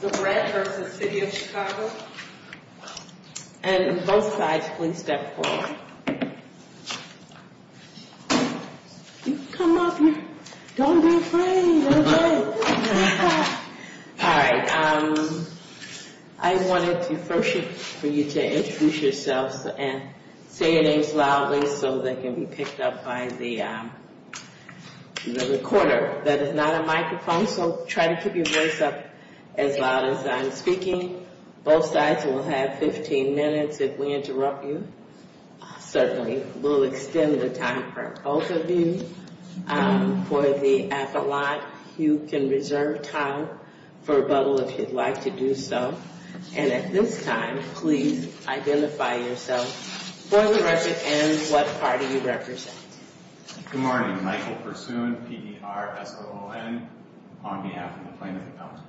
And on both sides, please step forward. You can come up here. Don't be afraid. All right. I wanted to first for you to introduce yourselves and say your names loudly so they can be picked up by the recorder. That is not a microphone, so try to keep your voice up as loud as I'm speaking. Both sides will have 15 minutes if we interrupt you. Certainly, we'll extend the time for both of you. For the appellate, you can reserve time for rebuttal if you'd like to do so. And at this time, please identify yourself for the record and what party you represent. Good morning. Michael Pursoon, P-E-R-S-O-O-N, on behalf of the plaintiff and counsel.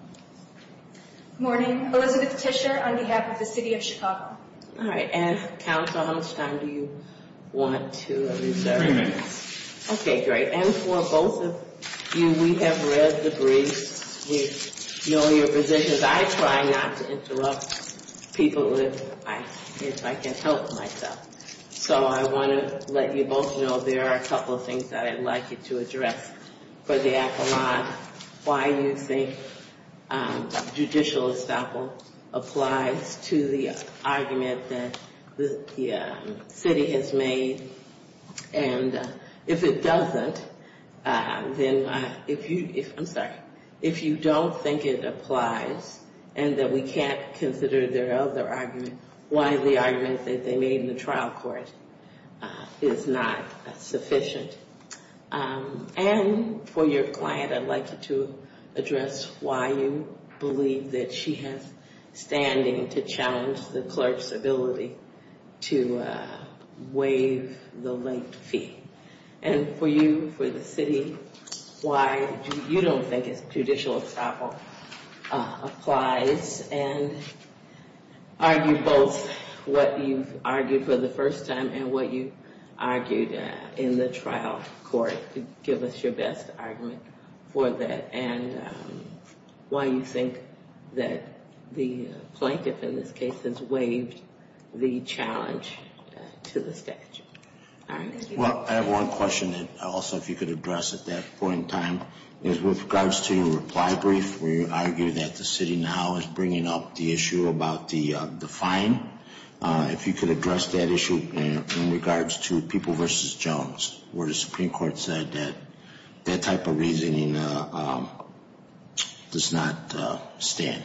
Good morning. Elizabeth Tischer, on behalf of the City of Chicago. All right. And counsel, how much time do you want to reserve? Three minutes. Okay, great. And for both of you, we have read the brief. We know your positions. I try not to interrupt people if I can't help myself. So I want to let you both know there are a couple of things that I'd like you to address. For the appellate, why you think judicial estoppel applies to the argument that the city has made. And if it doesn't, then if you don't think it applies and that we can't consider their other argument, why the argument that they made in the trial court is not sufficient. And for your client, I'd like you to address why you believe that she has standing to challenge the clerk's ability to waive the late fee. And for you, for the city, why you don't think judicial estoppel applies and argue both what you've argued for the first time and what you argued in the trial court. Give us your best argument for that. And why you think that the plaintiff in this case has waived the challenge to the statute. Well, I have one question that also if you could address at that point in time is with regards to your reply brief, where you argue that the city now is bringing up the issue about the fine. If you could address that issue in regards to People v. Jones, where the Supreme Court said that that type of reasoning does not stand.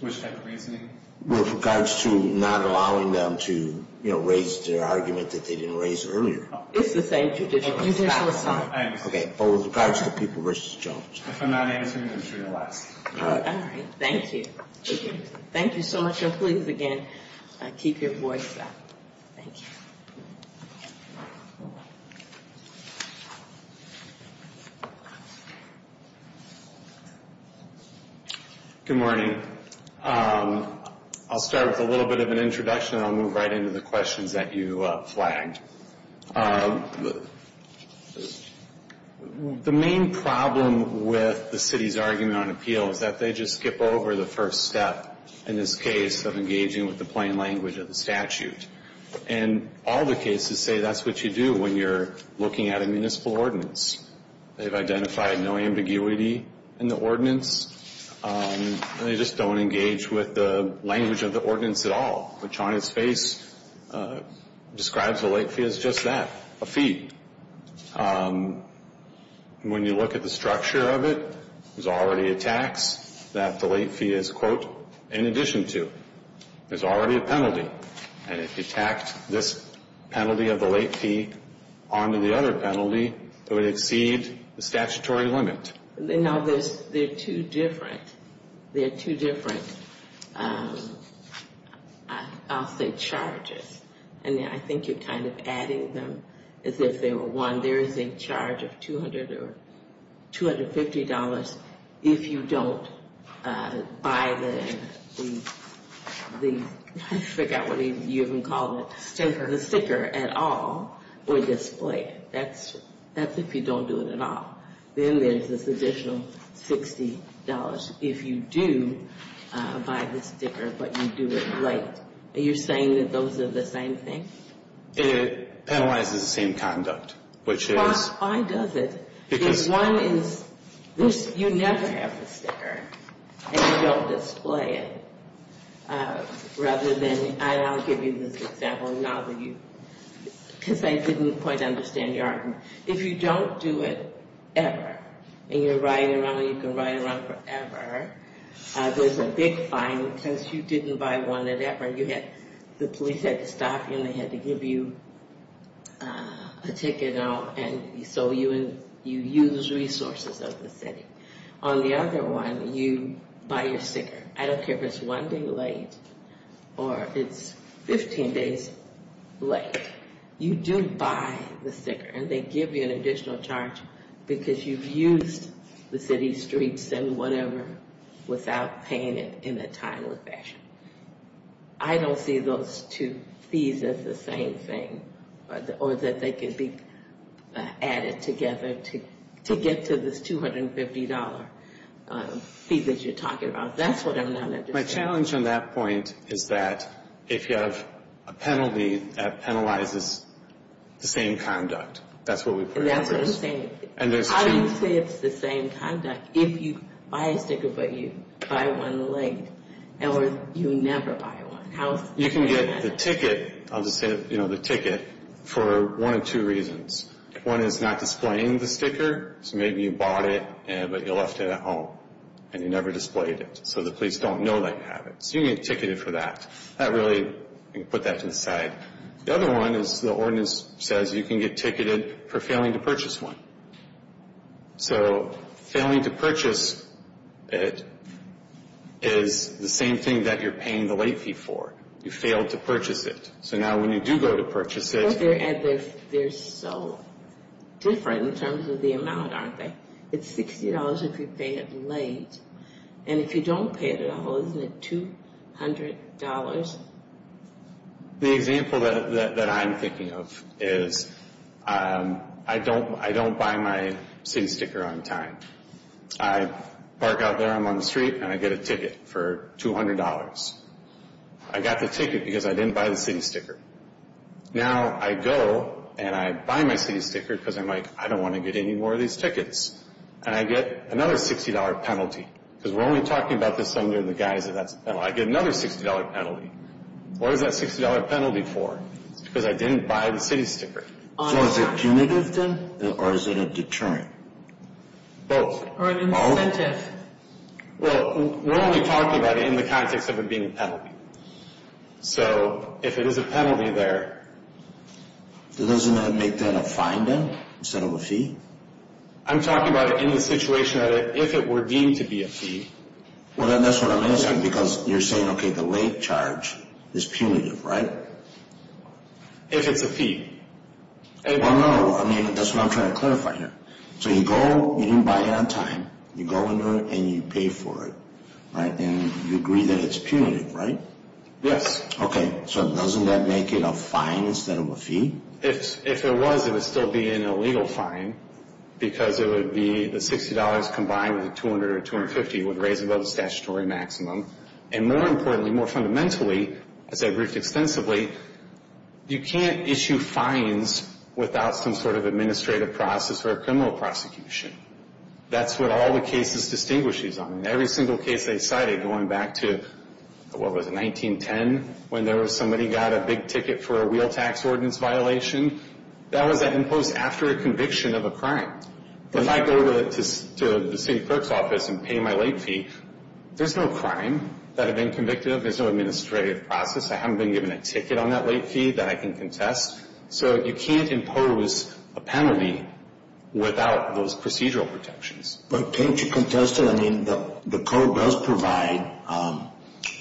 Which type of reasoning? With regards to not allowing them to raise their argument that they didn't raise earlier. It's the same judicial estoppel. Okay. But with regards to People v. Jones. If I'm not answering, I'm sure you're last. All right. Thank you. Thank you so much. And please, again, keep your voice down. Thank you. Good morning. I'll start with a little bit of an introduction. I'll move right into the questions that you flagged. The main problem with the city's argument on appeal is that they just skip over the first step in this case of engaging with the plain language of the statute. And all the cases say that's what you do when you're looking at a municipal ordinance. They've identified no ambiguity in the ordinance. They just don't engage with the language of the ordinance at all, which on its face describes the late fee as just that, a fee. When you look at the structure of it, there's already a tax that the late fee is, quote, in addition to. There's already a penalty. And if you tacked this penalty of the late fee onto the other penalty, it would exceed the statutory limit. There are two different, I'll say, charges. And I think you're kind of adding them as if they were one. There is a charge of $200 or $250 if you don't buy the, I forgot what you even called it. The sticker. The sticker at all or display it. That's if you don't do it at all. Then there's this additional $60 if you do buy the sticker, but you do it late. Are you saying that those are the same thing? It penalizes the same conduct, which is. Why does it? Because. One is this, you never have the sticker. And you don't display it. Rather than, I'll give you this example now that you, because I didn't quite understand your argument. If you don't do it ever and you're riding around and you can ride around forever, there's a big fine. Since you didn't buy one at ever, you had, the police had to stop you and they had to give you a ticket out. And so you use resources of the city. On the other one, you buy your sticker. I don't care if it's one day late or it's 15 days late. You do buy the sticker. And they give you an additional charge because you've used the city streets and whatever without paying it in a timely fashion. I don't see those two fees as the same thing. Or that they could be added together to get to this $250 fee that you're talking about. That's what I'm not understanding. The challenge on that point is that if you have a penalty, that penalizes the same conduct. That's what we put first. And that's the same thing. How do you say it's the same conduct if you buy a sticker but you buy one late? Or you never buy one? You can get the ticket, I'll just say the ticket, for one of two reasons. One is not displaying the sticker. So maybe you bought it but you left it at home and you never displayed it. So the police don't know that you have it. So you get ticketed for that. That really, you can put that to the side. The other one is the ordinance says you can get ticketed for failing to purchase one. So failing to purchase it is the same thing that you're paying the late fee for. You failed to purchase it. So now when you do go to purchase it. But they're so different in terms of the amount, aren't they? It's $60 if you pay it late. And if you don't pay it at all, isn't it $200? The example that I'm thinking of is I don't buy my city sticker on time. I park out there, I'm on the street, and I get a ticket for $200. I got the ticket because I didn't buy the city sticker. Now I go and I buy my city sticker because I'm like, I don't want to get any more of these tickets. And I get another $60 penalty because we're only talking about this under the guise that that's a penalty. I get another $60 penalty. What is that $60 penalty for? It's because I didn't buy the city sticker. So is it punitive, then, or is it a deterrent? Both. Or an incentive. Well, we're only talking about it in the context of it being a penalty. So if it is a penalty there. Doesn't that make that a fine, then, instead of a fee? I'm talking about it in the situation that if it were deemed to be a fee. Well, then that's what I'm asking because you're saying, okay, the late charge is punitive, right? If it's a fee. Well, no. I mean, that's what I'm trying to clarify here. So you go, you didn't buy it on time. You go into it and you pay for it, right? And you agree that it's punitive, right? Yes. Okay. So doesn't that make it a fine instead of a fee? If it was, it would still be an illegal fine because it would be the $60 combined with the $200 or $250 would raise above the statutory maximum. And more importantly, more fundamentally, as I've briefed extensively, you can't issue fines without some sort of administrative process or a criminal prosecution. That's what all the cases distinguish. I mean, every single case they cited going back to, what was it, 1910, when somebody got a big ticket for a wheel tax ordinance violation, that was imposed after a conviction of a crime. If I go to the city clerk's office and pay my late fee, there's no crime that I've been convicted of. There's no administrative process. I haven't been given a ticket on that late fee that I can contest. So you can't impose a penalty without those procedural protections. But can't you contest it? I mean, the code does provide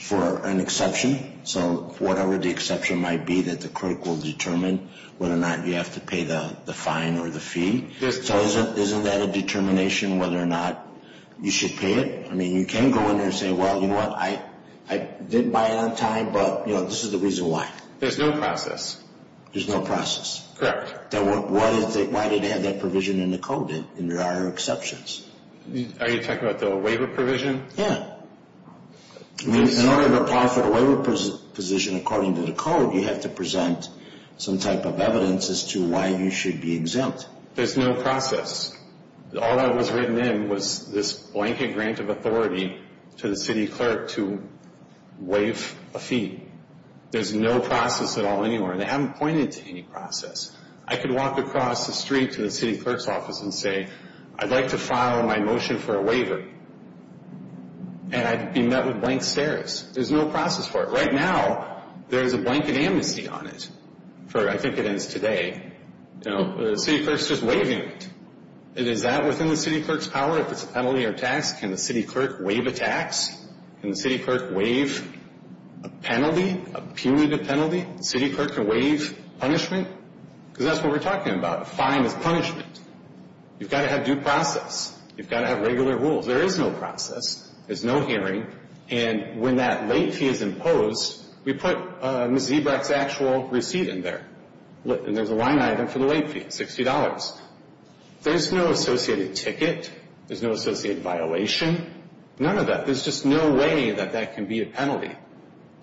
for an exception. So whatever the exception might be that the clerk will determine whether or not you have to pay the fine or the fee. So isn't that a determination whether or not you should pay it? I mean, you can go in there and say, well, you know what, I did buy it on time, but, you know, this is the reason why. There's no process. There's no process. Correct. Why did it have that provision in the code? There are exceptions. Are you talking about the waiver provision? Yeah. In order to apply for the waiver position according to the code, you have to present some type of evidence as to why you should be exempt. There's no process. All that was written in was this blanket grant of authority to the city clerk to waive a fee. There's no process at all anywhere, and they haven't pointed to any process. I could walk across the street to the city clerk's office and say, I'd like to file my motion for a waiver, and I'd be met with blank stares. There's no process for it. Right now, there's a blanket amnesty on it for, I think it ends today. You know, the city clerk's just waiving it. Is that within the city clerk's power if it's a penalty or tax? Can the city clerk waive a tax? Can the city clerk waive a penalty, a punitive penalty? The city clerk can waive punishment? Because that's what we're talking about. A fine is punishment. You've got to have due process. You've got to have regular rules. There is no process. There's no hearing. And when that late fee is imposed, we put Ms. Ebrecht's actual receipt in there. And there's a line item for the late fee, $60. There's no associated ticket. There's no associated violation. None of that. There's just no way that that can be a penalty.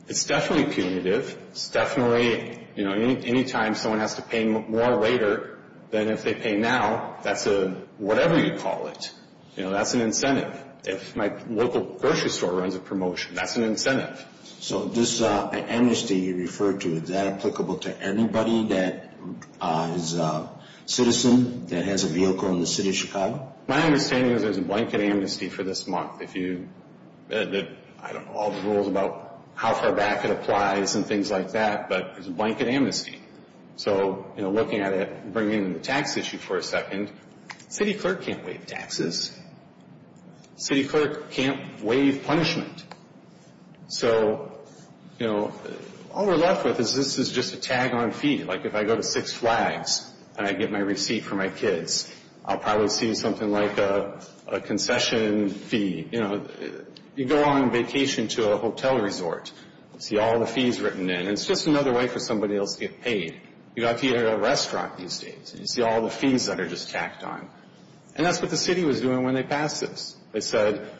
It's definitely punitive. It's definitely, you know, anytime someone has to pay more later than if they pay now, that's a whatever you call it. You know, that's an incentive. If my local grocery store runs a promotion, that's an incentive. So this amnesty you referred to, is that applicable to anybody that is a citizen that has a vehicle in the city of Chicago? Well, my understanding is there's a blanket amnesty for this month. I don't know all the rules about how far back it applies and things like that, but there's a blanket amnesty. So, you know, looking at it, bringing in the tax issue for a second, city clerk can't waive taxes. City clerk can't waive punishment. So, you know, all we're left with is this is just a tag-on fee. Like if I go to Six Flags and I get my receipt for my kids, I'll probably see something like a concession fee. You know, you go on vacation to a hotel resort, see all the fees written in, and it's just another way for somebody else to get paid. You go out to eat at a restaurant these days, and you see all the fees that are just tacked on. And that's what the city was doing when they passed this. They said,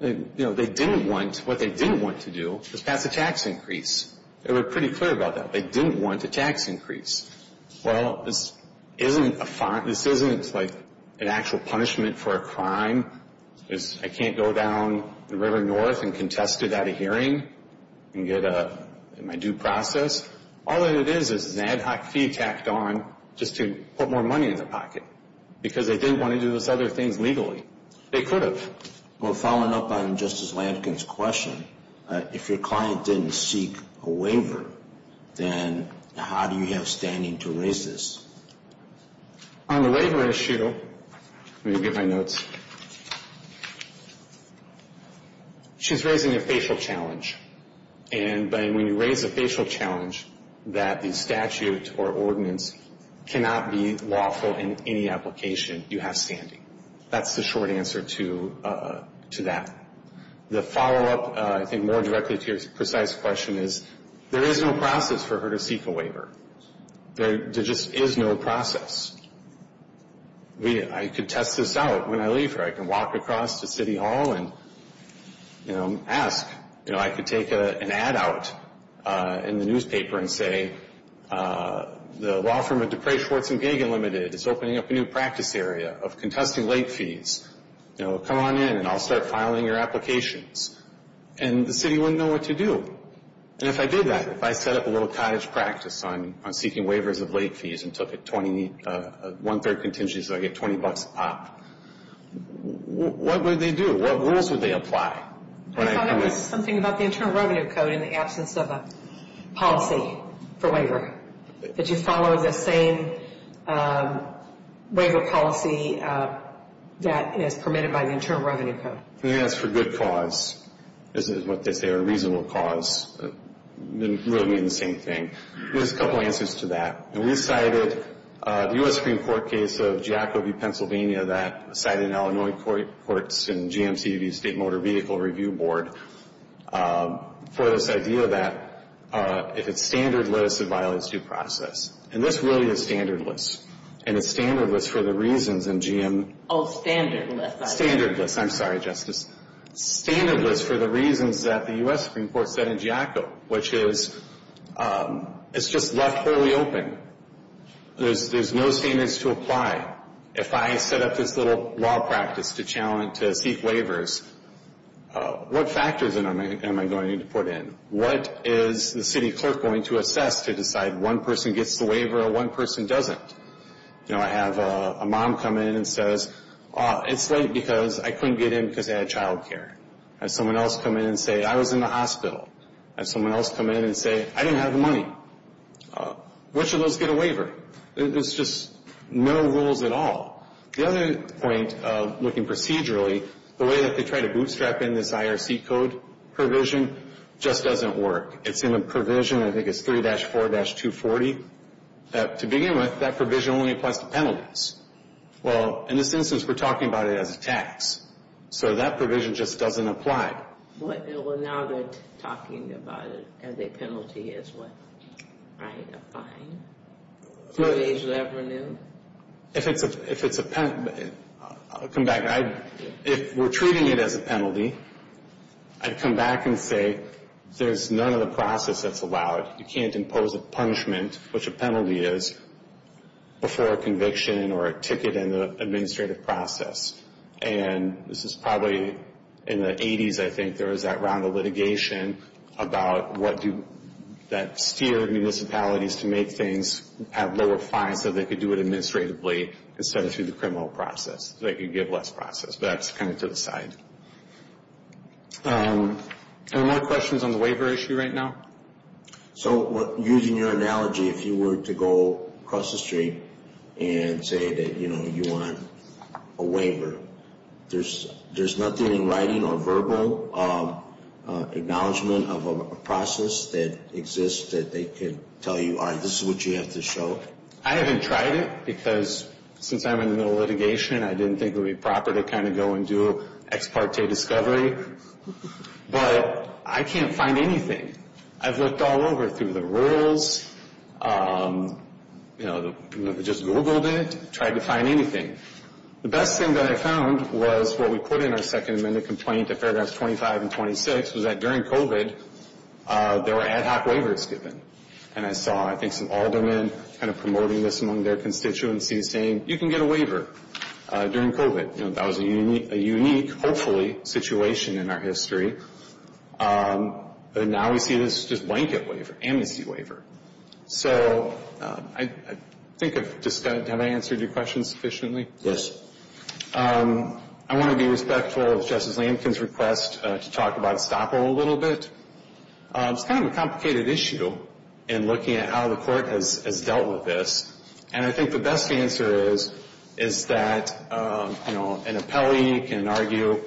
you know, they didn't want, what they didn't want to do was pass a tax increase. They were pretty clear about that. They didn't want a tax increase. Well, this isn't a fine. This isn't like an actual punishment for a crime. I can't go down the river north and contest it at a hearing and get my due process. All that it is is an ad hoc fee tacked on just to put more money in the pocket because they didn't want to do those other things legally. They could have. Well, following up on Justice Lankin's question, if your client didn't seek a waiver, then how do you have standing to raise this? On the waiver issue, let me get my notes. She's raising a facial challenge. And when you raise a facial challenge, that the statute or ordinance cannot be lawful in any application you have standing. That's the short answer to that. The follow-up, I think, more directly to your precise question is, there is no process for her to seek a waiver. There just is no process. I could test this out when I leave her. I can walk across to City Hall and, you know, ask. You know, I could take an ad out in the newspaper and say, the law firm of DePray Schwartz and Gagan Limited is opening up a new practice area of contesting late fees. You know, come on in and I'll start filing your applications. And the city wouldn't know what to do. And if I did that, if I set up a little cottage practice on seeking waivers of late fees and took a one-third contingency so I get $20 a pop, what would they do? What rules would they apply? I thought that was something about the Internal Revenue Code in the absence of a policy for waiver. Did you follow the same waiver policy that is permitted by the Internal Revenue Code? I think that's for good cause, is what they say, or reasonable cause. They really mean the same thing. There's a couple answers to that. And we cited the U.S. Supreme Court case of Jacoby, Pennsylvania, that was cited in Illinois Courts and GMCV, State Motor Vehicle Review Board, for this idea that if it's standardless, it violates due process. And this really is standardless. And it's standardless for the reasons in GM. Oh, standardless. Standardless. I'm sorry, Justice. Standardless for the reasons that the U.S. Supreme Court said in Jaco, which is it's just left wholly open. There's no standards to apply. If I set up this little law practice to challenge, to seek waivers, what factors am I going to put in? What is the city clerk going to assess to decide one person gets the waiver or one person doesn't? You know, I have a mom come in and says, it's late because I couldn't get in because I had child care. I have someone else come in and say, I was in the hospital. I have someone else come in and say, I didn't have the money. Which of those get a waiver? There's just no rules at all. The other point of looking procedurally, the way that they try to bootstrap in this IRC code provision just doesn't work. It's in a provision, I think it's 3-4-240. To begin with, that provision only applies to penalties. Well, in this instance, we're talking about it as a tax. So that provision just doesn't apply. Well, now they're talking about it as a penalty as well. Right, a fine. Third-age revenue. If it's a penalty, I'll come back. If we're treating it as a penalty, I'd come back and say, there's none of the process that's allowed. You can't impose a punishment, which a penalty is, before a conviction or a ticket in the administrative process. And this is probably in the 80s, I think, there was that round of litigation about that steered municipalities to make things have lower fines so they could do it administratively instead of through the criminal process. So they could give less process. But that's kind of to the side. Are there more questions on the waiver issue right now? So using your analogy, if you were to go across the street and say that you want a waiver, there's nothing in writing or verbal acknowledgment of a process that exists that they could tell you, all right, this is what you have to show? I haven't tried it because since I'm in the middle of litigation, I didn't think it would be proper to kind of go and do ex parte discovery. But I can't find anything. I've looked all over through the rules, you know, just Googled it, tried to find anything. The best thing that I found was what we put in our Second Amendment complaint in paragraphs 25 and 26 was that during COVID, there were ad hoc waivers given. And I saw, I think, some aldermen kind of promoting this among their constituencies saying, you can get a waiver during COVID. You know, that was a unique, hopefully, situation in our history. But now we see this as just blanket waiver, amnesty waiver. So I think I've discussed, have I answered your question sufficiently? Yes. I want to be respectful of Justice Lamkin's request to talk about estoppel a little bit. It's kind of a complicated issue in looking at how the court has dealt with this. And I think the best answer is, is that, you know, an appellee can argue,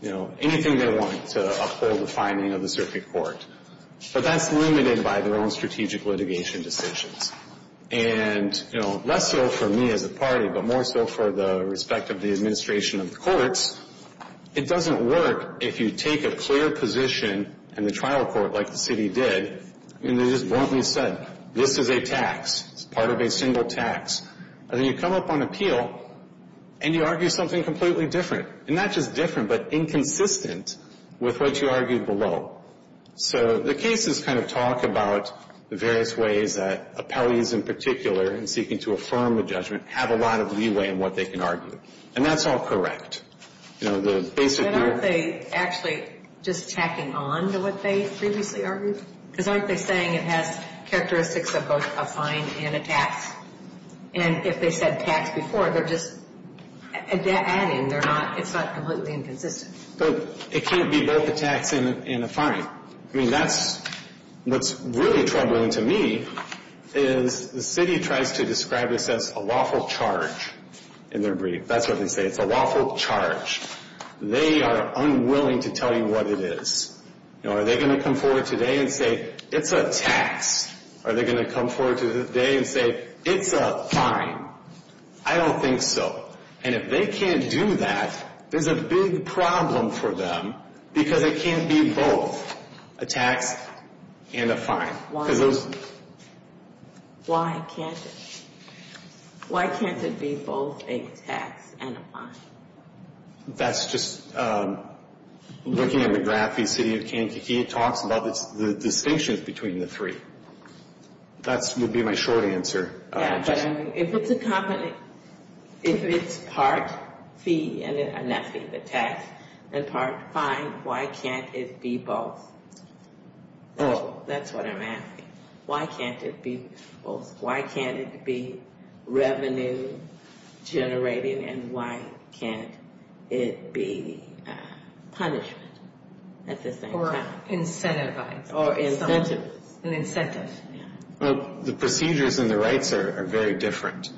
you know, anything they want to uphold the finding of the circuit court. But that's limited by their own strategic litigation decisions. And, you know, less so for me as a party, but more so for the respect of the administration of the courts, it doesn't work if you take a clear position in the trial court like the city did. I mean, they just bluntly said, this is a tax. It's part of a single tax. And then you come up on appeal, and you argue something completely different. And not just different, but inconsistent with what you argued below. So the cases kind of talk about the various ways that appellees in particular, in seeking to affirm a judgment, have a lot of leeway in what they can argue. And that's all correct. You know, the basic – Aren't they actually just tacking on to what they previously argued? Because aren't they saying it has characteristics of both a fine and a tax? And if they said tax before, they're just adding. They're not – it's not completely inconsistent. But it can't be both a tax and a fine. I mean, that's – what's really troubling to me is the city tries to describe this as a lawful charge in their brief. That's what they say. It's a lawful charge. They are unwilling to tell you what it is. You know, are they going to come forward today and say, it's a tax? Are they going to come forward today and say, it's a fine? I don't think so. And if they can't do that, there's a big problem for them because it can't be both a tax and a fine. Why can't it? Why can't it be both a tax and a fine? That's just – looking at McGrath v. City of Kankakee, it talks about the distinctions between the three. That would be my short answer. Yeah, but I mean, if it's a company – if it's part fee and part tax and part fine, why can't it be both? That's what I'm asking. Why can't it be both? Why can't it be revenue generating and why can't it be punishment at the same time? Or incentivized. Or incentives. An incentive. The procedures and the rights are very different.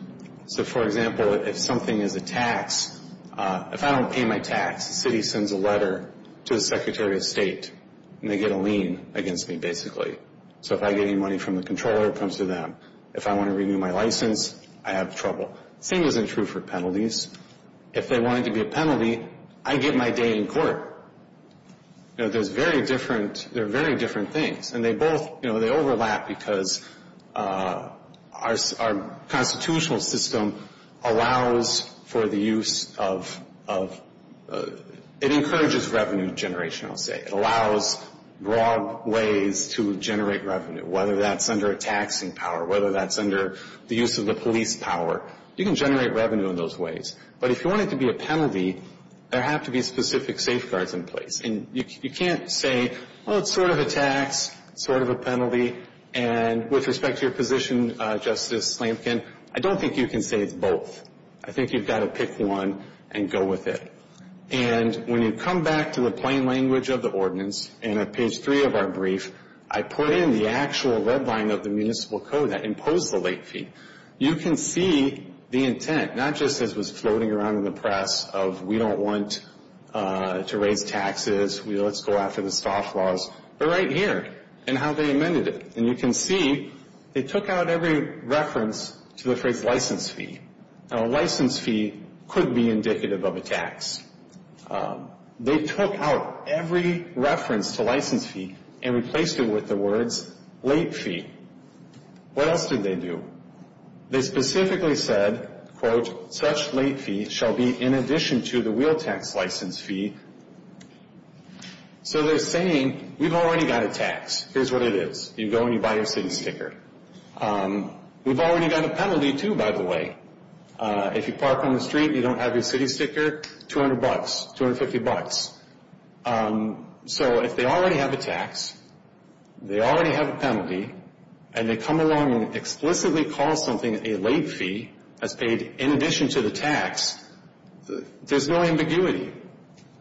So, for example, if something is a tax, if I don't pay my tax, the city sends a letter to the Secretary of State and they get a lien against me, basically. So if I get any money from the Comptroller, it comes to them. If I want to renew my license, I have trouble. Same isn't true for penalties. If they want it to be a penalty, I get my day in court. There's very different – they're very different things. And they both – they overlap because our constitutional system allows for the use of – it encourages revenue generation, I'll say. It allows broad ways to generate revenue, whether that's under a taxing power, whether that's under the use of the police power. You can generate revenue in those ways. But if you want it to be a penalty, there have to be specific safeguards in place. And you can't say, well, it's sort of a tax, sort of a penalty. And with respect to your position, Justice Slamkin, I don't think you can say it's both. I think you've got to pick one and go with it. And when you come back to the plain language of the ordinance and at page 3 of our brief, I put in the actual red line of the municipal code that imposed the late fee. You can see the intent, not just as it was floating around in the press of we don't want to raise taxes, let's go after the staff laws, but right here and how they amended it. And you can see they took out every reference to the phrase license fee. Now, a license fee could be indicative of a tax. They took out every reference to license fee and replaced it with the words late fee. What else did they do? They specifically said, quote, such late fee shall be in addition to the wheel tax license fee. So they're saying we've already got a tax. Here's what it is. You go and you buy your city sticker. We've already got a penalty, too, by the way. If you park on the street and you don't have your city sticker, 200 bucks, 250 bucks. So if they already have a tax, they already have a penalty, and they come along and explicitly call something a late fee as paid in addition to the tax, there's no ambiguity.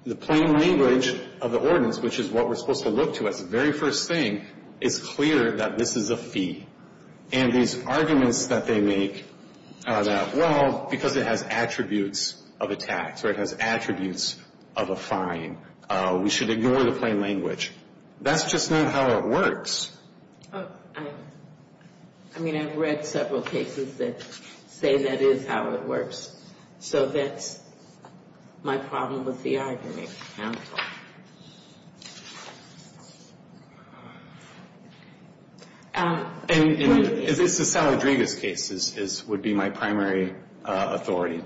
The plain language of the ordinance, which is what we're supposed to look to as the very first thing, is clear that this is a fee. And these arguments that they make that, well, because it has attributes of a tax or it has attributes of a fine, we should ignore the plain language, that's just not how it works. I mean, I've read several cases that say that is how it works. So that's my problem with the argument, counsel. And this is Sal Rodriguez's case, would be my primary authority.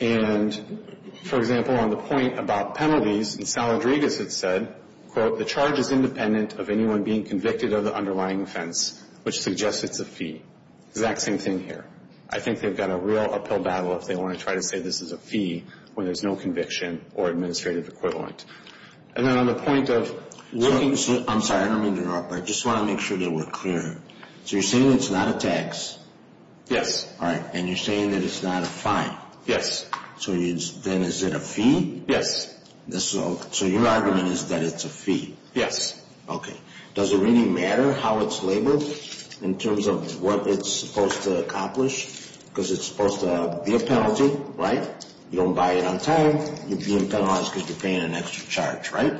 And, for example, on the point about penalties, and Sal Rodriguez had said, quote, the charge is independent of anyone being convicted of the underlying offense, which suggests it's a fee. It's the exact same thing here. I think they've got a real uphill battle if they want to try to say this is a fee when there's no conviction or administrative equivalent. And then on the point of looking to see – I'm sorry, I don't mean to interrupt, but I just want to make sure that we're clear. So you're saying it's not a tax? Yes. All right, and you're saying that it's not a fine? Yes. So then is it a fee? Yes. So your argument is that it's a fee? Yes. Okay. Does it really matter how it's labeled in terms of what it's supposed to accomplish? Because it's supposed to be a penalty, right? You don't buy it on time. You're being penalized because you're paying an extra charge, right?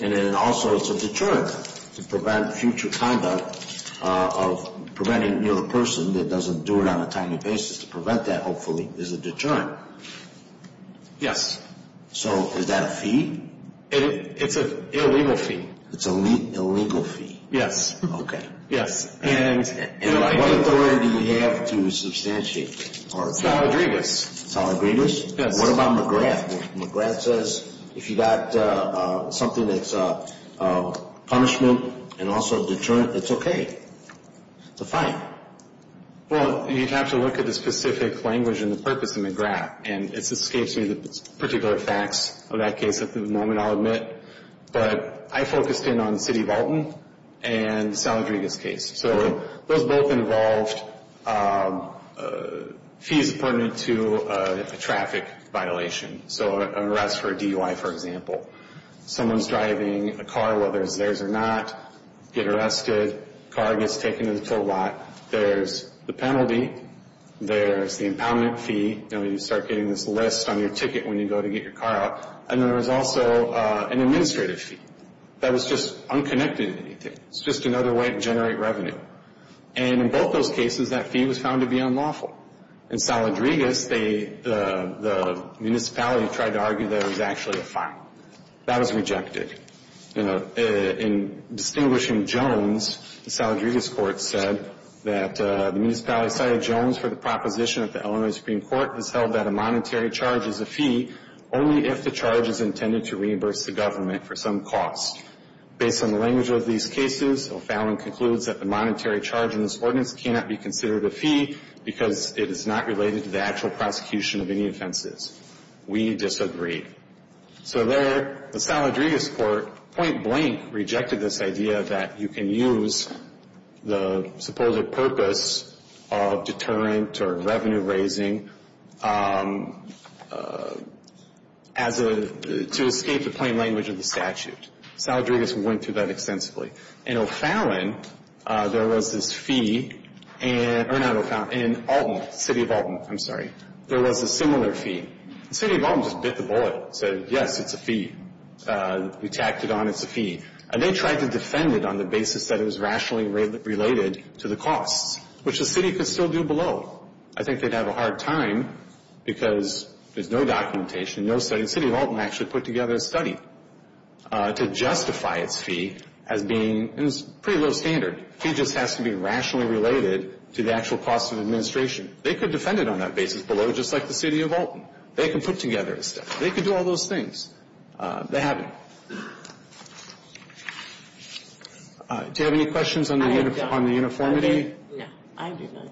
And then also it's a deterrent to prevent future conduct of preventing another person that doesn't do it on a timely basis to prevent that, hopefully, is a deterrent. Yes. So is that a fee? It's an illegal fee. It's an illegal fee? Yes. Okay. Yes. And what authority do you have to substantiate? Sal Rodriguez. Sal Rodriguez? Yes. What about McGrath? McGrath says if you've got something that's a punishment and also a deterrent, it's okay. It's a fine. Well, you'd have to look at the specific language and the purpose of McGrath, and it escapes me the particular facts of that case at the moment, I'll admit. But I focused in on the city of Alton and the Sal Rodriguez case. So those both involved fees pertinent to a traffic violation, so an arrest for a DUI, for example. Someone's driving a car, whether it's theirs or not, get arrested, car gets taken to the toll lot, there's the penalty, there's the impoundment fee. You know, you start getting this list on your ticket when you go to get your car out. And then there's also an administrative fee. That was just unconnected to anything. It's just another way to generate revenue. And in both those cases, that fee was found to be unlawful. In Sal Rodriguez, the municipality tried to argue that it was actually a fine. That was rejected. In distinguishing Jones, the Sal Rodriguez court said that the municipality cited Jones for the proposition that the Illinois Supreme Court has held that a monetary charge is a fee only if the charge is intended to reimburse the government for some cost. Based on the language of these cases, O'Fallon concludes that the monetary charge in this ordinance cannot be considered a fee because it is not related to the actual prosecution of any offenses. We disagree. So there, the Sal Rodriguez court point blank rejected this idea that you can use the supposed purpose of deterrent or revenue raising as a to escape the plain language of the statute. Sal Rodriguez went through that extensively. In O'Fallon, there was this fee, or not O'Fallon, in Alton, city of Alton, I'm sorry, there was a similar fee. The city of Alton just bit the bullet and said, yes, it's a fee. We tacked it on. It's a fee. And they tried to defend it on the basis that it was rationally related to the costs, which the city could still do below. I think they'd have a hard time because there's no documentation, no study. To justify its fee as being pretty low standard. It just has to be rationally related to the actual cost of administration. They could defend it on that basis below just like the city of Alton. They could put together a statute. They could do all those things. They haven't. Do you have any questions on the uniformity? I do not.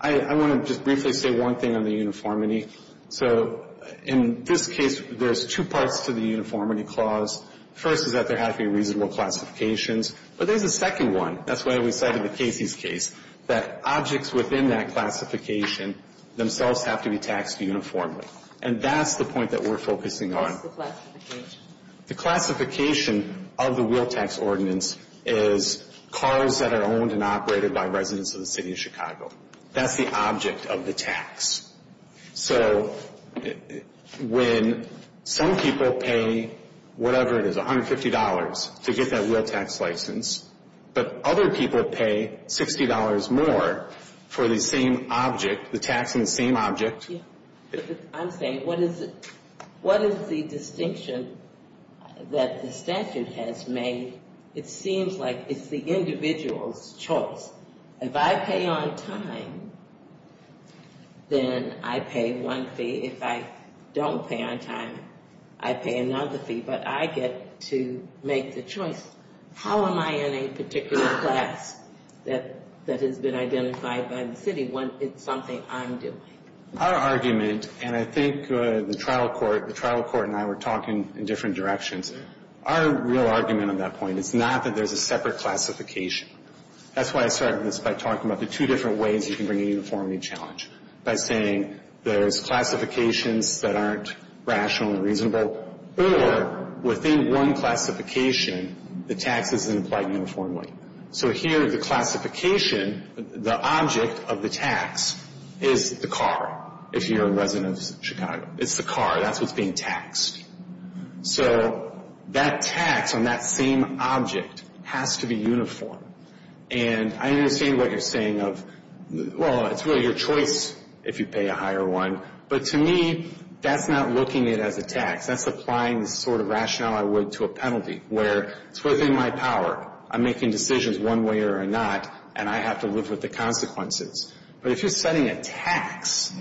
I want to just briefly say one thing on the uniformity. So in this case, there's two parts to the uniformity clause. First is that there has to be reasonable classifications. But there's a second one. That's why we cited the Casey's case. That objects within that classification themselves have to be taxed uniformly. And that's the point that we're focusing on. What's the classification? The classification of the Will Tax Ordinance is cars that are owned and operated by residents of the city of Chicago. That's the object of the tax. So when some people pay whatever it is, $150, to get that Will Tax License, but other people pay $60 more for the same object, the tax on the same object. I'm saying what is the distinction that the statute has made? It seems like it's the individual's choice. If I pay on time, then I pay one fee. If I don't pay on time, I pay another fee. But I get to make the choice. How am I in a particular class that has been identified by the city when it's something I'm doing? Our argument, and I think the trial court and I were talking in different directions, our real argument on that point is not that there's a separate classification. That's why I started this by talking about the two different ways you can bring a uniformity challenge, by saying there's classifications that aren't rational and reasonable, or within one classification, the tax isn't applied uniformly. So here, the classification, the object of the tax, is the car, if you're a resident of Chicago. It's the car. That's what's being taxed. So that tax on that same object has to be uniform. And I understand what you're saying of, well, it's really your choice if you pay a higher one. But to me, that's not looking at it as a tax. That's applying the sort of rationale I would to a penalty, where it's within my power. I'm making decisions one way or another, and I have to live with the consequences. But if you're setting a tax,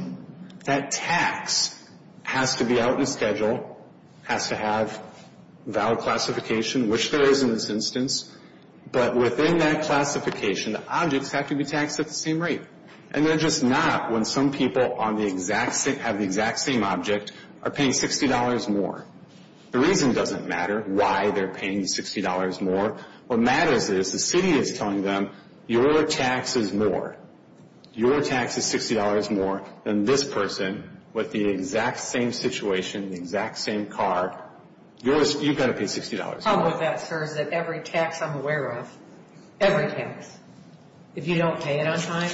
that tax has to be out in schedule, has to have valid classification, which there is in this instance. But within that classification, the objects have to be taxed at the same rate. And they're just not when some people have the exact same object, are paying $60 more. The reason doesn't matter why they're paying $60 more. What matters is the city is telling them, your tax is more. Your tax is $60 more than this person with the exact same situation, the exact same car. You've got to pay $60 more. The problem with that, sir, is that every tax I'm aware of, every tax, if you don't pay it on time,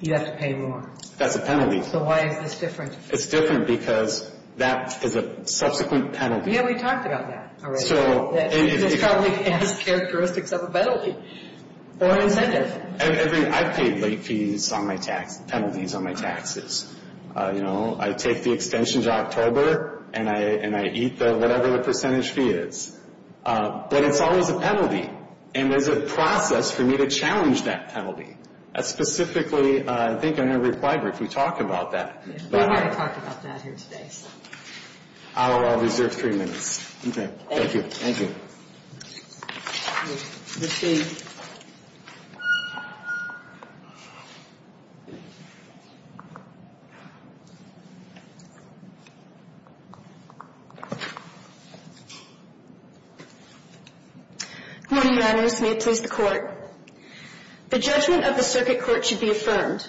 you have to pay more. That's a penalty. So why is this different? It's different because that is a subsequent penalty. Yeah, we talked about that already. It probably has characteristics of a penalty or an incentive. I've paid late fees on my tax, penalties on my taxes. You know, I take the extension to October, and I eat whatever the percentage fee is. But it's always a penalty, and there's a process for me to challenge that penalty. Specifically, I think I never replied, but if we talk about that. We already talked about that here today. I'll reserve three minutes. Okay. Thank you. Good morning, Your Honors. May it please the Court. The judgment of the circuit court should be affirmed.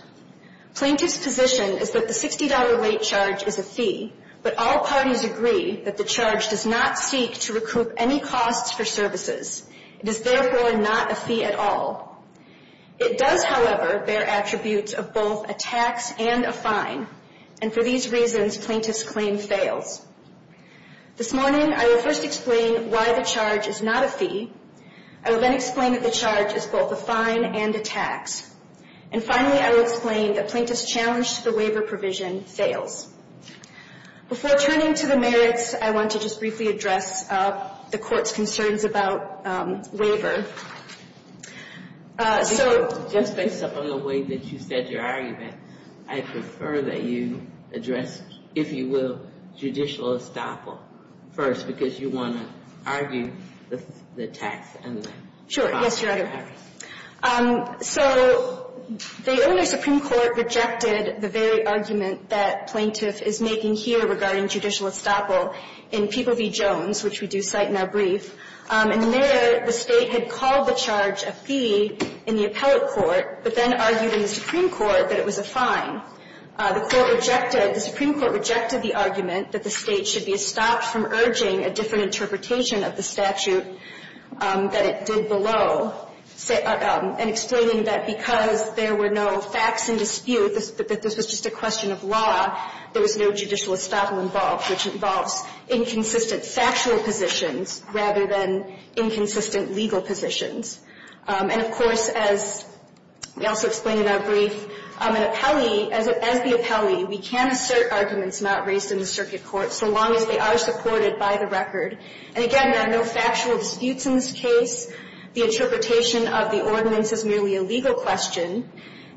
Plaintiff's position is that the $60 late charge is a fee, but all parties agree that the charge does not seek to recoup any costs for services. It is, therefore, not a fee at all. It does, however, bear attributes of both a tax and a fine, and for these reasons, plaintiff's claim fails. This morning, I will first explain why the charge is not a fee. I will then explain that the charge is both a fine and a tax. And finally, I will explain that plaintiff's challenge to the waiver provision fails. Before turning to the merits, I want to just briefly address the Court's concerns about waiver. Just based on the way that you said your argument, I prefer that you address, if you will, judicial estoppel first, because you want to argue the tax and the fine. Sure. Yes, Your Honor. So the Illinois Supreme Court rejected the very argument that plaintiff is making here regarding judicial estoppel in People v. Jones, which we do cite in our brief. In there, the State had called the charge a fee in the appellate court, but then argued in the Supreme Court that it was a fine. The Court rejected, the Supreme Court rejected the argument that the State should be estopped from urging a different interpretation of the statute that it did below, and explaining that because there were no facts in dispute, that this was just a question of law, there was no judicial estoppel involved, which involves inconsistent factual positions rather than inconsistent legal positions. And, of course, as we also explain in our brief, an appellee, as the appellee, we can assert arguments not raised in the circuit court so long as they are supported by the record. And, again, there are no factual disputes in this case. The interpretation of the ordinance is merely a legal question.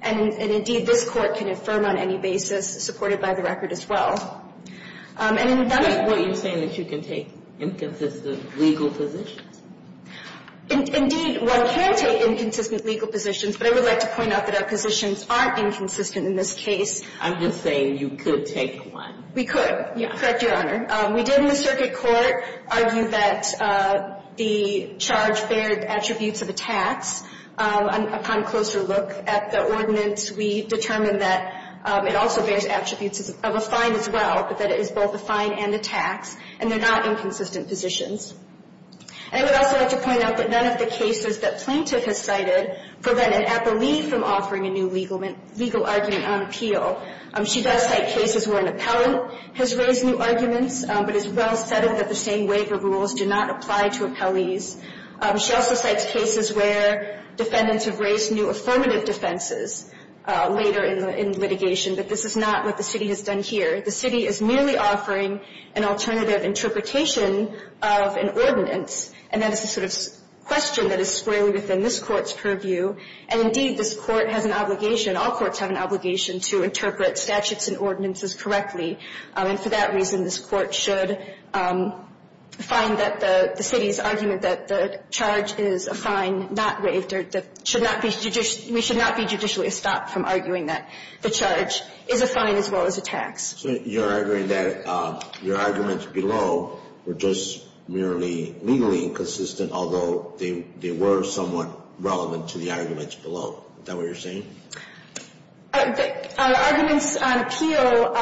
And, indeed, this Court can affirm on any basis supported by the record as well. And in that case ---- Are you saying that you can take inconsistent legal positions? Indeed, one can take inconsistent legal positions, but I would like to point out that our positions aren't inconsistent in this case. I'm just saying you could take one. We could. Correct Your Honor. We did in the circuit court argue that the charge bared attributes of a tax. Upon closer look at the ordinance, we determined that it also bears attributes of a fine as well, but that it is both a fine and a tax, and they're not inconsistent positions. And I would also like to point out that none of the cases that plaintiff has cited prevent an appellee from offering a new legal argument on appeal. She does cite cases where an appellant has raised new arguments, but it's well said that the same waiver rules do not apply to appellees. She also cites cases where defendants have raised new affirmative defenses later in litigation, but this is not what the city has done here. The city is merely offering an alternative interpretation of an ordinance, and that's sort of a question that is squarely within this Court's purview. And, indeed, this Court has an obligation, all courts have an obligation, to interpret statutes and ordinances correctly. And for that reason, this Court should find that the city's argument that the charge is a fine not waived or that we should not be judicially stopped from arguing that the charge is a fine as well as a tax. So you're arguing that your arguments below were just merely legally inconsistent, although they were somewhat relevant to the arguments below. Is that what you're saying? Our arguments on appeal,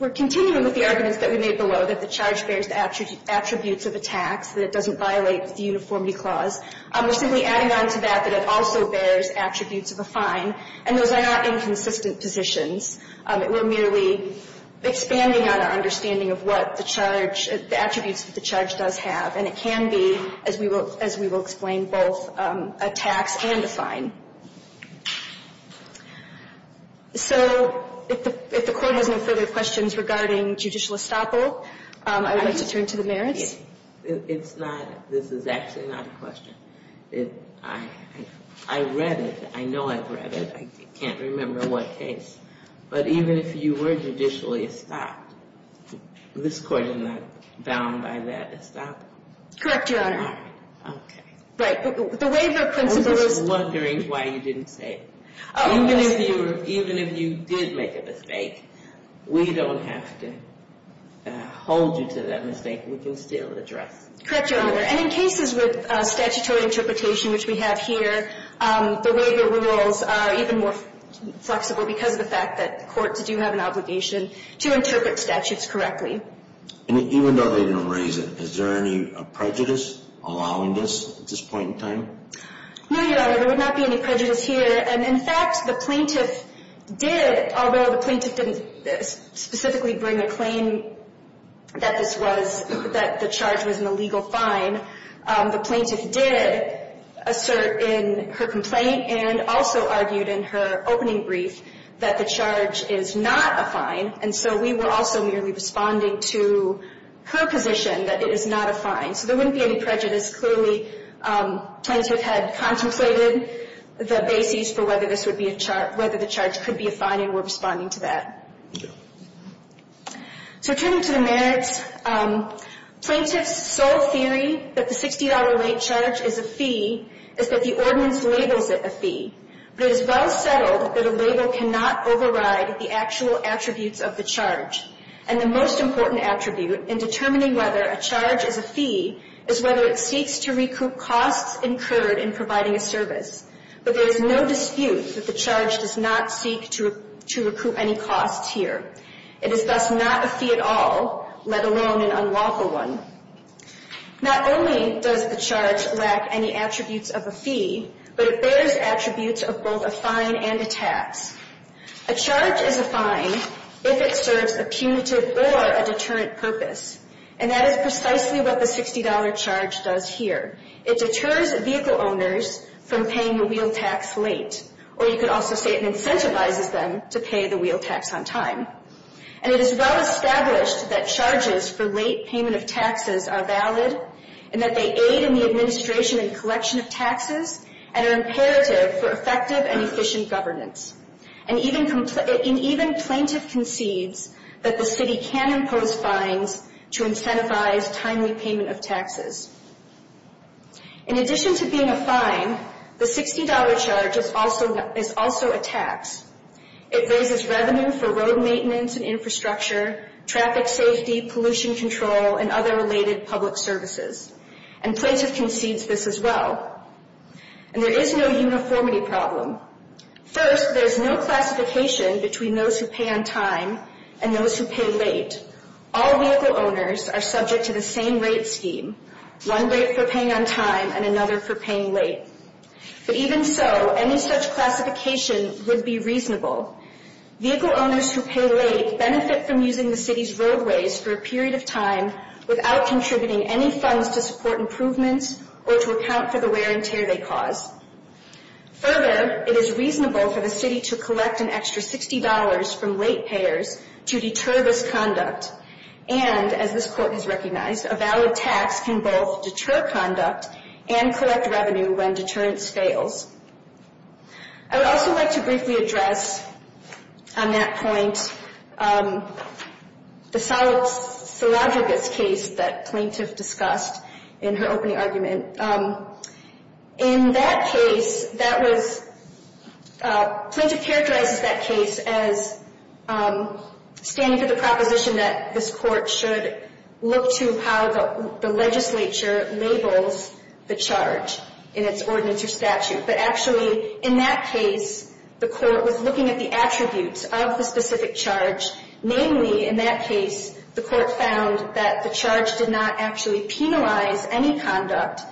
we're continuing with the arguments that we made below, that the charge bears attributes of a tax, that it doesn't violate the uniformity clause. We're simply adding on to that that it also bears attributes of a fine, and those are not inconsistent positions. We're merely expanding on our understanding of what the charge, the attributes that the charge does have. And it can be, as we will explain, both a tax and a fine. So if the Court has no further questions regarding judicial estoppel, I would like to turn to the merits. It's not, this is actually not a question. I read it. I know I've read it. I can't remember what case. But even if you were judicially estopped, this Court is not bound by that estoppel. Correct, Your Honor. All right. Okay. Right. The waiver principle is. I'm just wondering why you didn't say it. Even if you did make a mistake, we don't have to hold you to that mistake. We can still address it. Correct, Your Honor. And in cases with statutory interpretation, which we have here, the waiver rules are even more flexible because of the fact that courts do have an obligation to interpret statutes correctly. And even though they didn't raise it, is there any prejudice allowing this at this point in time? No, Your Honor. There would not be any prejudice here. And, in fact, the plaintiff did, although the plaintiff didn't specifically bring a claim that this was, that the charge was an illegal fine, the plaintiff did assert in her complaint and also argued in her opening brief that the charge is not a fine. And so we were also merely responding to her position that it is not a fine. So there wouldn't be any prejudice. Clearly, the plaintiff had contemplated the basis for whether the charge could be a fine, and we're responding to that. So turning to the merits, plaintiff's sole theory that the $60 late charge is a fee is that the ordinance labels it a fee. But it is well settled that a label cannot override the actual attributes of the charge. And the most important attribute in determining whether a charge is a fee is whether it seeks to recoup costs incurred in providing a service. But there is no dispute that the charge does not seek to recoup any costs here. It is thus not a fee at all, let alone an unlawful one. Not only does the charge lack any attributes of a fee, but it bears attributes of both a fine and a tax. A charge is a fine if it serves a punitive or a deterrent purpose. And that is precisely what the $60 charge does here. It deters vehicle owners from paying the wheel tax late. Or you could also say it incentivizes them to pay the wheel tax on time. And it is well established that charges for late payment of taxes are valid and that they aid in the administration and collection of taxes and are imperative for effective and efficient governance. And even plaintiff concedes that the city can impose fines to incentivize timely payment of taxes. In addition to being a fine, the $60 charge is also a tax. It raises revenue for road maintenance and infrastructure, traffic safety, pollution control, and other related public services. And plaintiff concedes this as well. And there is no uniformity problem. First, there is no classification between those who pay on time and those who pay late. All vehicle owners are subject to the same rate scheme, one rate for paying on time and another for paying late. But even so, any such classification would be reasonable. Vehicle owners who pay late benefit from using the city's roadways for a period of time without contributing any funds to support improvements or to account for the wear and tear they cause. Further, it is reasonable for the city to collect an extra $60 from late payers to deter this conduct. And, as this court has recognized, a valid tax can both deter conduct and collect revenue when deterrence fails. I would also like to briefly address on that point the solid silagigas case that plaintiff discussed in her opening argument. In that case, plaintiff characterizes that case as standing to the proposition that this court should look to how the legislature labels the charge in its ordinance or statute. But actually, in that case, the court was looking at the attributes of the specific charge. Namely, in that case, the court found that the charge did not actually penalize any conduct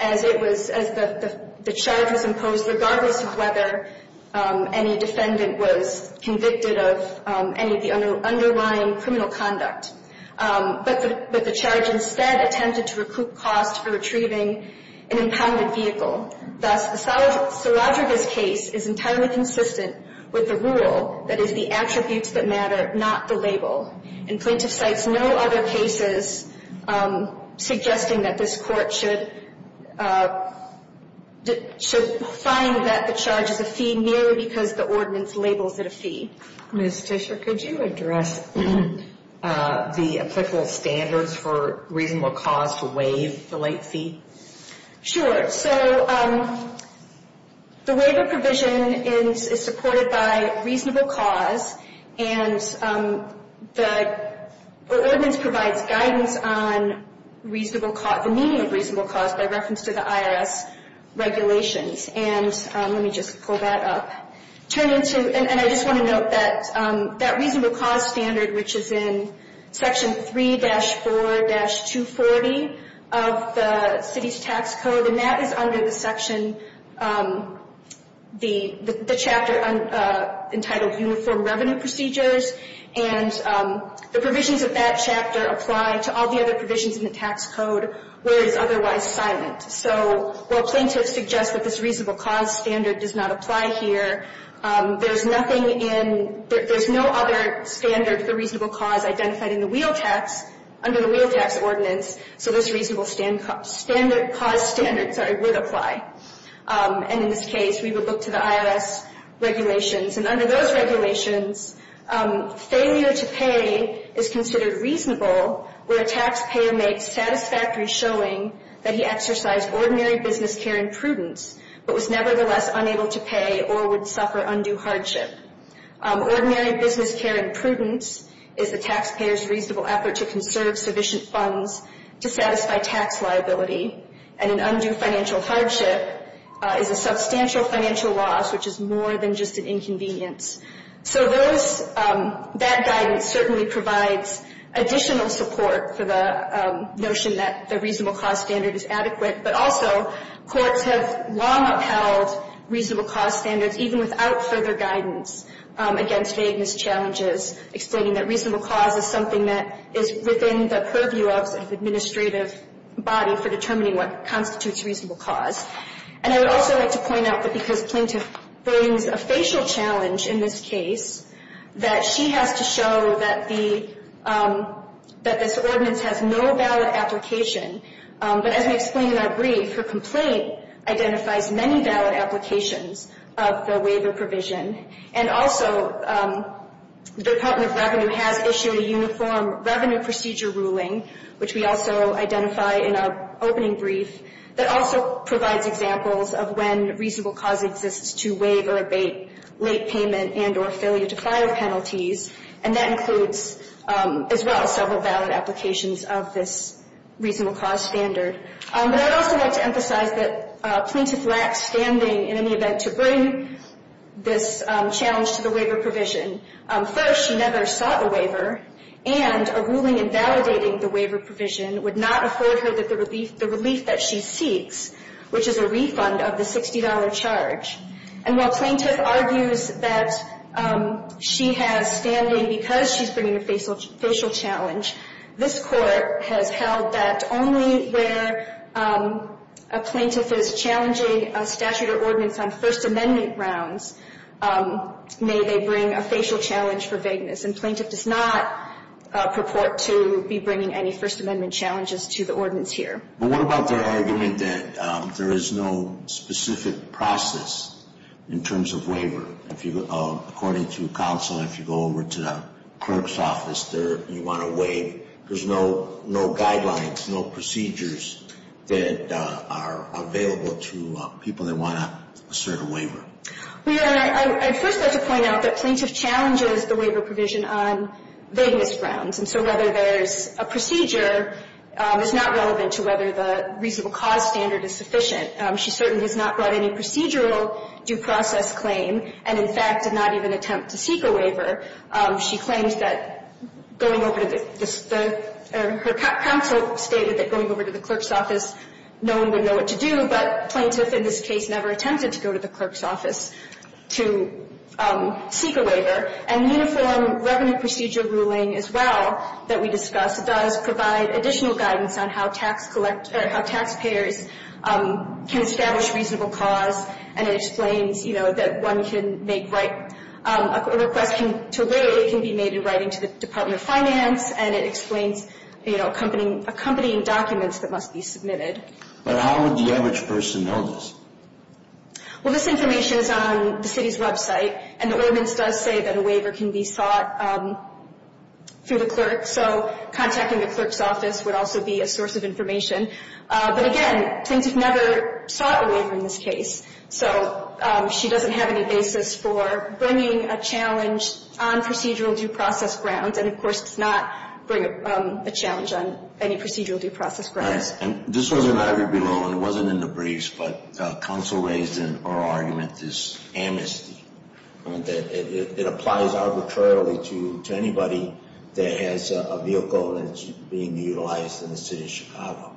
as the charge was imposed regardless of whether any defendant was convicted of any of the underlying criminal conduct. But the charge instead attempted to recoup cost for retrieving an impounded vehicle. Thus, the silagigas case is entirely consistent with the rule that is the attributes that matter, not the label. And plaintiff cites no other cases suggesting that this court should find that the charge is a fee merely because the ordinance labels it a fee. Ms. Fisher, could you address the applicable standards for reasonable cause to waive the late fee? Sure. So the waiver provision is supported by reasonable cause. And the ordinance provides guidance on the meaning of reasonable cause by reference to the IRS regulations. And let me just pull that up. And I just want to note that that reasonable cause standard, which is in Section 3-4-240 of the City's Tax Code, and that is under the section, the chapter entitled Uniform Revenue Procedures. And the provisions of that chapter apply to all the other provisions in the tax code where it is otherwise silent. So while plaintiffs suggest that this reasonable cause standard does not apply here, there's nothing in there's no other standard for reasonable cause identified in the wheel tax under the wheel tax ordinance. So this reasonable cause standard would apply. And in this case, we would look to the IRS regulations. And under those regulations, failure to pay is considered reasonable where a taxpayer makes satisfactory showing that he exercised ordinary business care and prudence but was nevertheless unable to pay or would suffer undue hardship. Ordinary business care and prudence is the taxpayer's reasonable effort to conserve sufficient funds to satisfy tax liability. And an undue financial hardship is a substantial financial loss, which is more than just an inconvenience. So that guidance certainly provides additional support for the notion that the reasonable cause standard is adequate. But also courts have long upheld reasonable cause standards, even without further guidance, against vagueness challenges, explaining that reasonable cause is something that is within the purview of the administrative body for determining what constitutes reasonable cause. And I would also like to point out that because plaintiff brings a facial challenge in this case, that she has to show that the, that this ordinance has no valid application. But as we explained in our brief, her complaint identifies many valid applications of the waiver provision. And also the Department of Revenue has issued a uniform revenue procedure ruling, which we also identify in our opening brief, that also provides examples of when reasonable cause exists to waive or abate late payment and or failure to file penalties. And that includes, as well, several valid applications of this reasonable cause standard. But I'd also like to emphasize that plaintiff lacks standing in any event to bring this challenge to the waiver provision. First, she never sought a waiver. And a ruling invalidating the waiver provision would not afford her the relief that she seeks, which is a refund of the $60 charge. And while plaintiff argues that she has standing because she's bringing a facial challenge, this court has held that only where a plaintiff is challenging a statute or ordinance on First Amendment grounds may they bring a facial challenge for vagueness. And plaintiff does not purport to be bringing any First Amendment challenges to the ordinance here. But what about their argument that there is no specific process in terms of According to counsel, if you go over to the clerk's office, you want to waive, there's no guidelines, no procedures that are available to people that want to assert a waiver. Well, Your Honor, I'd first like to point out that plaintiff challenges the waiver provision on vagueness grounds. And so whether there's a procedure is not relevant to whether the reasonable cause standard is sufficient. She certainly has not brought any procedural due process claim and, in fact, did not even attempt to seek a waiver. She claims that going over to the, her counsel stated that going over to the clerk's office, no one would know what to do. But plaintiff, in this case, never attempted to go to the clerk's office to seek a waiver. And the Uniform Revenue Procedure ruling, as well, that we discussed does provide additional guidance on how taxpayers can establish reasonable cause. And it explains, you know, that one can make, a request to waive can be made in writing to the Department of Finance. And it explains, you know, accompanying documents that must be submitted. But how would the average person know this? Well, this information is on the city's website. And the ordinance does say that a waiver can be sought through the clerk. So contacting the clerk's office would also be a source of information. But, again, plaintiff never sought a waiver in this case. So she doesn't have any basis for bringing a challenge on procedural due process grounds. And, of course, does not bring a challenge on any procedural due process grounds. And this was in the briefs, but counsel raised in her argument this amnesty. It applies arbitrarily to anybody that has a vehicle that's being utilized in the city of Chicago.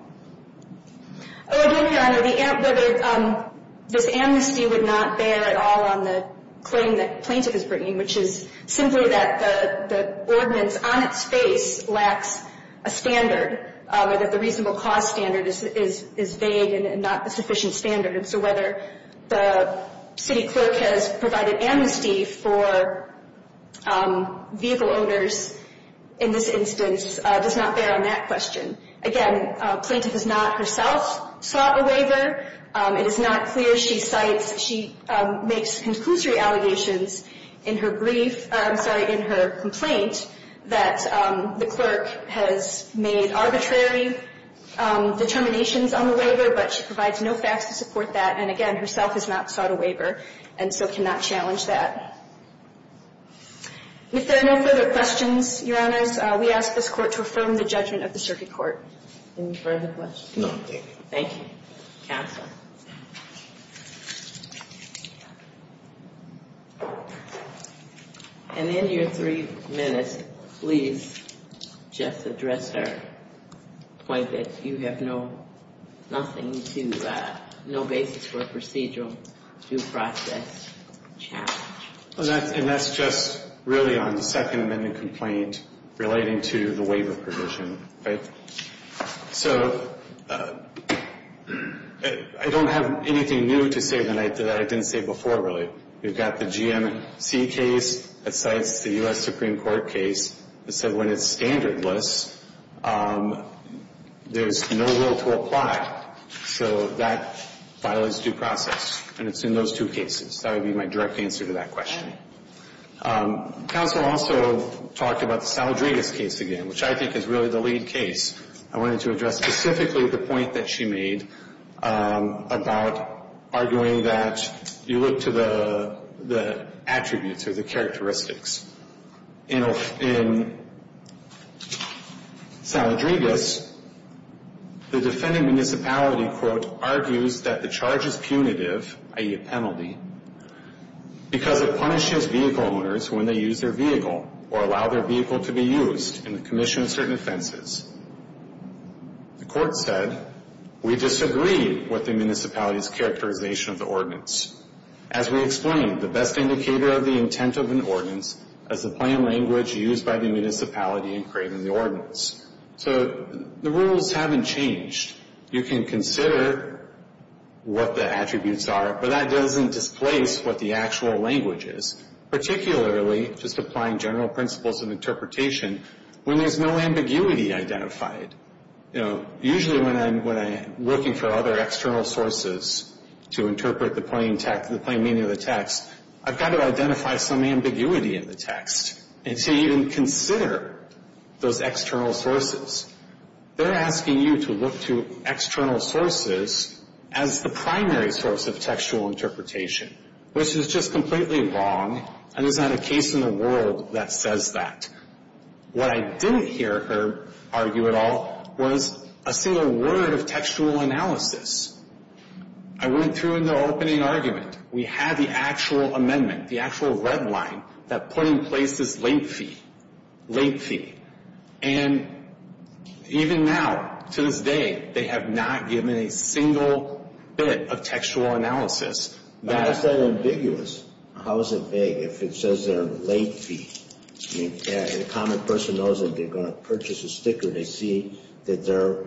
Oh, again, Your Honor, this amnesty would not bear at all on the claim that plaintiff is bringing, which is simply that the ordinance on its face lacks a standard, or that the reasonable cause standard is vague and not a sufficient standard. And so whether the city clerk has provided amnesty for vehicle owners in this instance does not bear on that question. Again, plaintiff has not herself sought a waiver. It is not clear. She cites, she makes conclusory allegations in her brief, I'm sorry, in her complaint that the clerk has made arbitrary determinations on the waiver, but she provides no facts to support that. And, again, herself has not sought a waiver and so cannot challenge that. If there are no further questions, Your Honors, we ask this Court to affirm the judgment of the circuit court. Any further questions? Thank you. And in your three minutes, please just address her point that you have nothing to, no basis for a procedural due process challenge. And that's just really on the Second Amendment complaint relating to the waiver provision. So I don't have anything new to say tonight that I didn't say before, really. We've got the GMC case that cites the U.S. Supreme Court case that said when it's standardless, there's no will to apply. So that file is due process, and it's in those two cases. That would be my direct answer to that question. Counsel also talked about the Saladrigas case again, which I think is really the lead case. I wanted to address specifically the point that she made about arguing that you look to the attributes or the characteristics. In Saladrigas, the defending municipality, quote, because it punishes vehicle owners when they use their vehicle or allow their vehicle to be used in the commission of certain offenses. The court said, So the rules haven't changed. You can consider what the attributes are, but that doesn't displace what the actual language is, particularly just applying general principles of interpretation when there's no ambiguity identified. Usually when I'm looking for other external sources to interpret the plain text, the plain meaning of the text, I've got to identify some ambiguity in the text and to even consider those external sources. They're asking you to look to external sources as the primary source of textual interpretation, which is just completely wrong, and there's not a case in the world that says that. What I didn't hear her argue at all was a single word of textual analysis. I went through in the opening argument. We had the actual amendment, the actual red line that put in place this late fee, late fee. And even now, to this day, they have not given a single bit of textual analysis. That's not ambiguous. How is it vague if it says they're a late fee? If a common person knows that they're going to purchase a sticker, they see that they're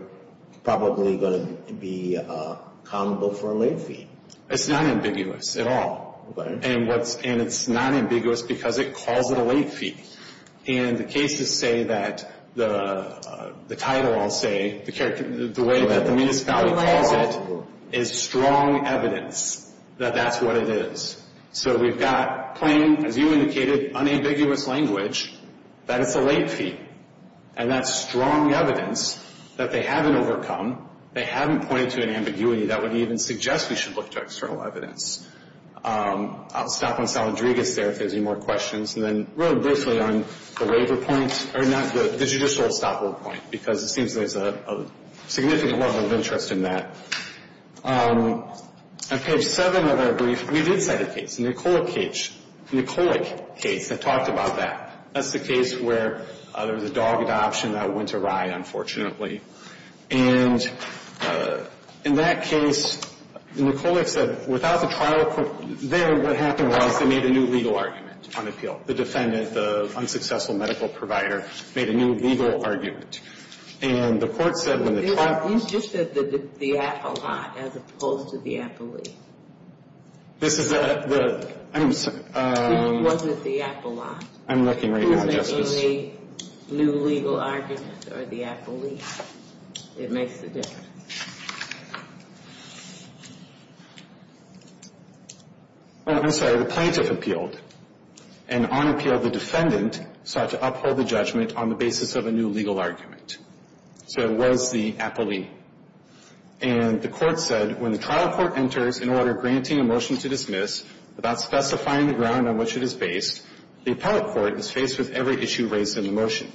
probably going to be accountable for a late fee. It's not ambiguous at all. And it's not ambiguous because it calls it a late fee. And the cases say that the title, I'll say, the way that the municipality calls it, is strong evidence that that's what it is. So we've got plain, as you indicated, unambiguous language that it's a late fee. And that's strong evidence that they haven't overcome. They haven't pointed to an ambiguity that would even suggest we should look to external evidence. I'll stop on Saladrigas there if there's any more questions. And then really briefly on the waiver point, or not the judicial stopover point, because it seems there's a significant level of interest in that. On page 7 of our brief, we did cite a case, a Nicola case that talked about that. That's the case where there was a dog adoption that went awry, unfortunately. And in that case, Nicola said, without the trial court there, what happened was they made a new legal argument on appeal. The defendant, the unsuccessful medical provider, made a new legal argument. And the court said when the trial court ---- You just said the appellant as opposed to the appellee. This is the ---- It wasn't the appellant. I'm looking right now, Justice. New legal argument or the appellee. It makes a difference. Oh, I'm sorry. The plaintiff appealed. And on appeal, the defendant sought to uphold the judgment on the basis of a new legal argument. So it was the appellee. And the court said when the trial court enters in order of granting a motion to dismiss, without specifying the ground on which it is based, the appellate court is faced with every issue raised in the motion.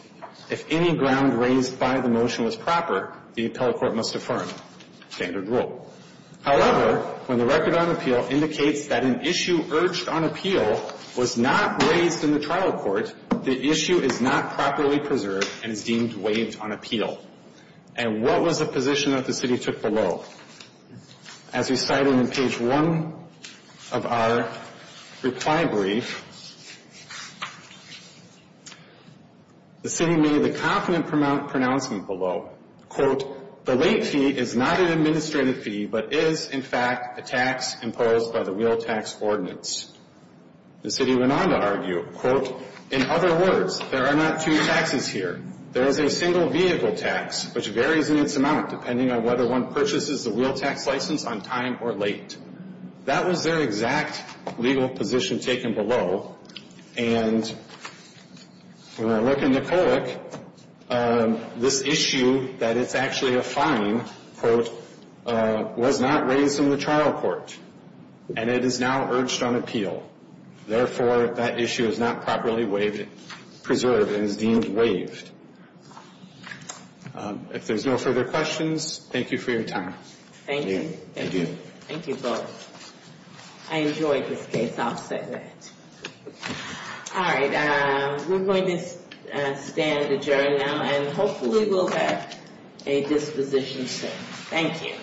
If any ground raised by the motion was proper, the appellate court must affirm. Standard rule. However, when the record on appeal indicates that an issue urged on appeal was not raised in the trial court, the issue is not properly preserved and is deemed waived on appeal. And what was the position that the city took below? As we cited in page 1 of our reply brief, the city made the confident pronouncement below, quote, the late fee is not an administrative fee, but is, in fact, a tax imposed by the wheel tax ordinance. The city went on to argue, quote, in other words, there are not two taxes here. There is a single vehicle tax, which varies in its amount, depending on whether one purchases the wheel tax license on time or late. That was their exact legal position taken below. And when I look in the code, this issue that it's actually a fine, quote, was not raised in the trial court. And it is now urged on appeal. Therefore, that issue is not properly preserved and is deemed waived. If there's no further questions, thank you for your time. Thank you. Thank you. Thank you both. I enjoyed this case. I'll say that. All right. We're going to stand adjourned now, and hopefully we'll have a disposition soon. Thank you.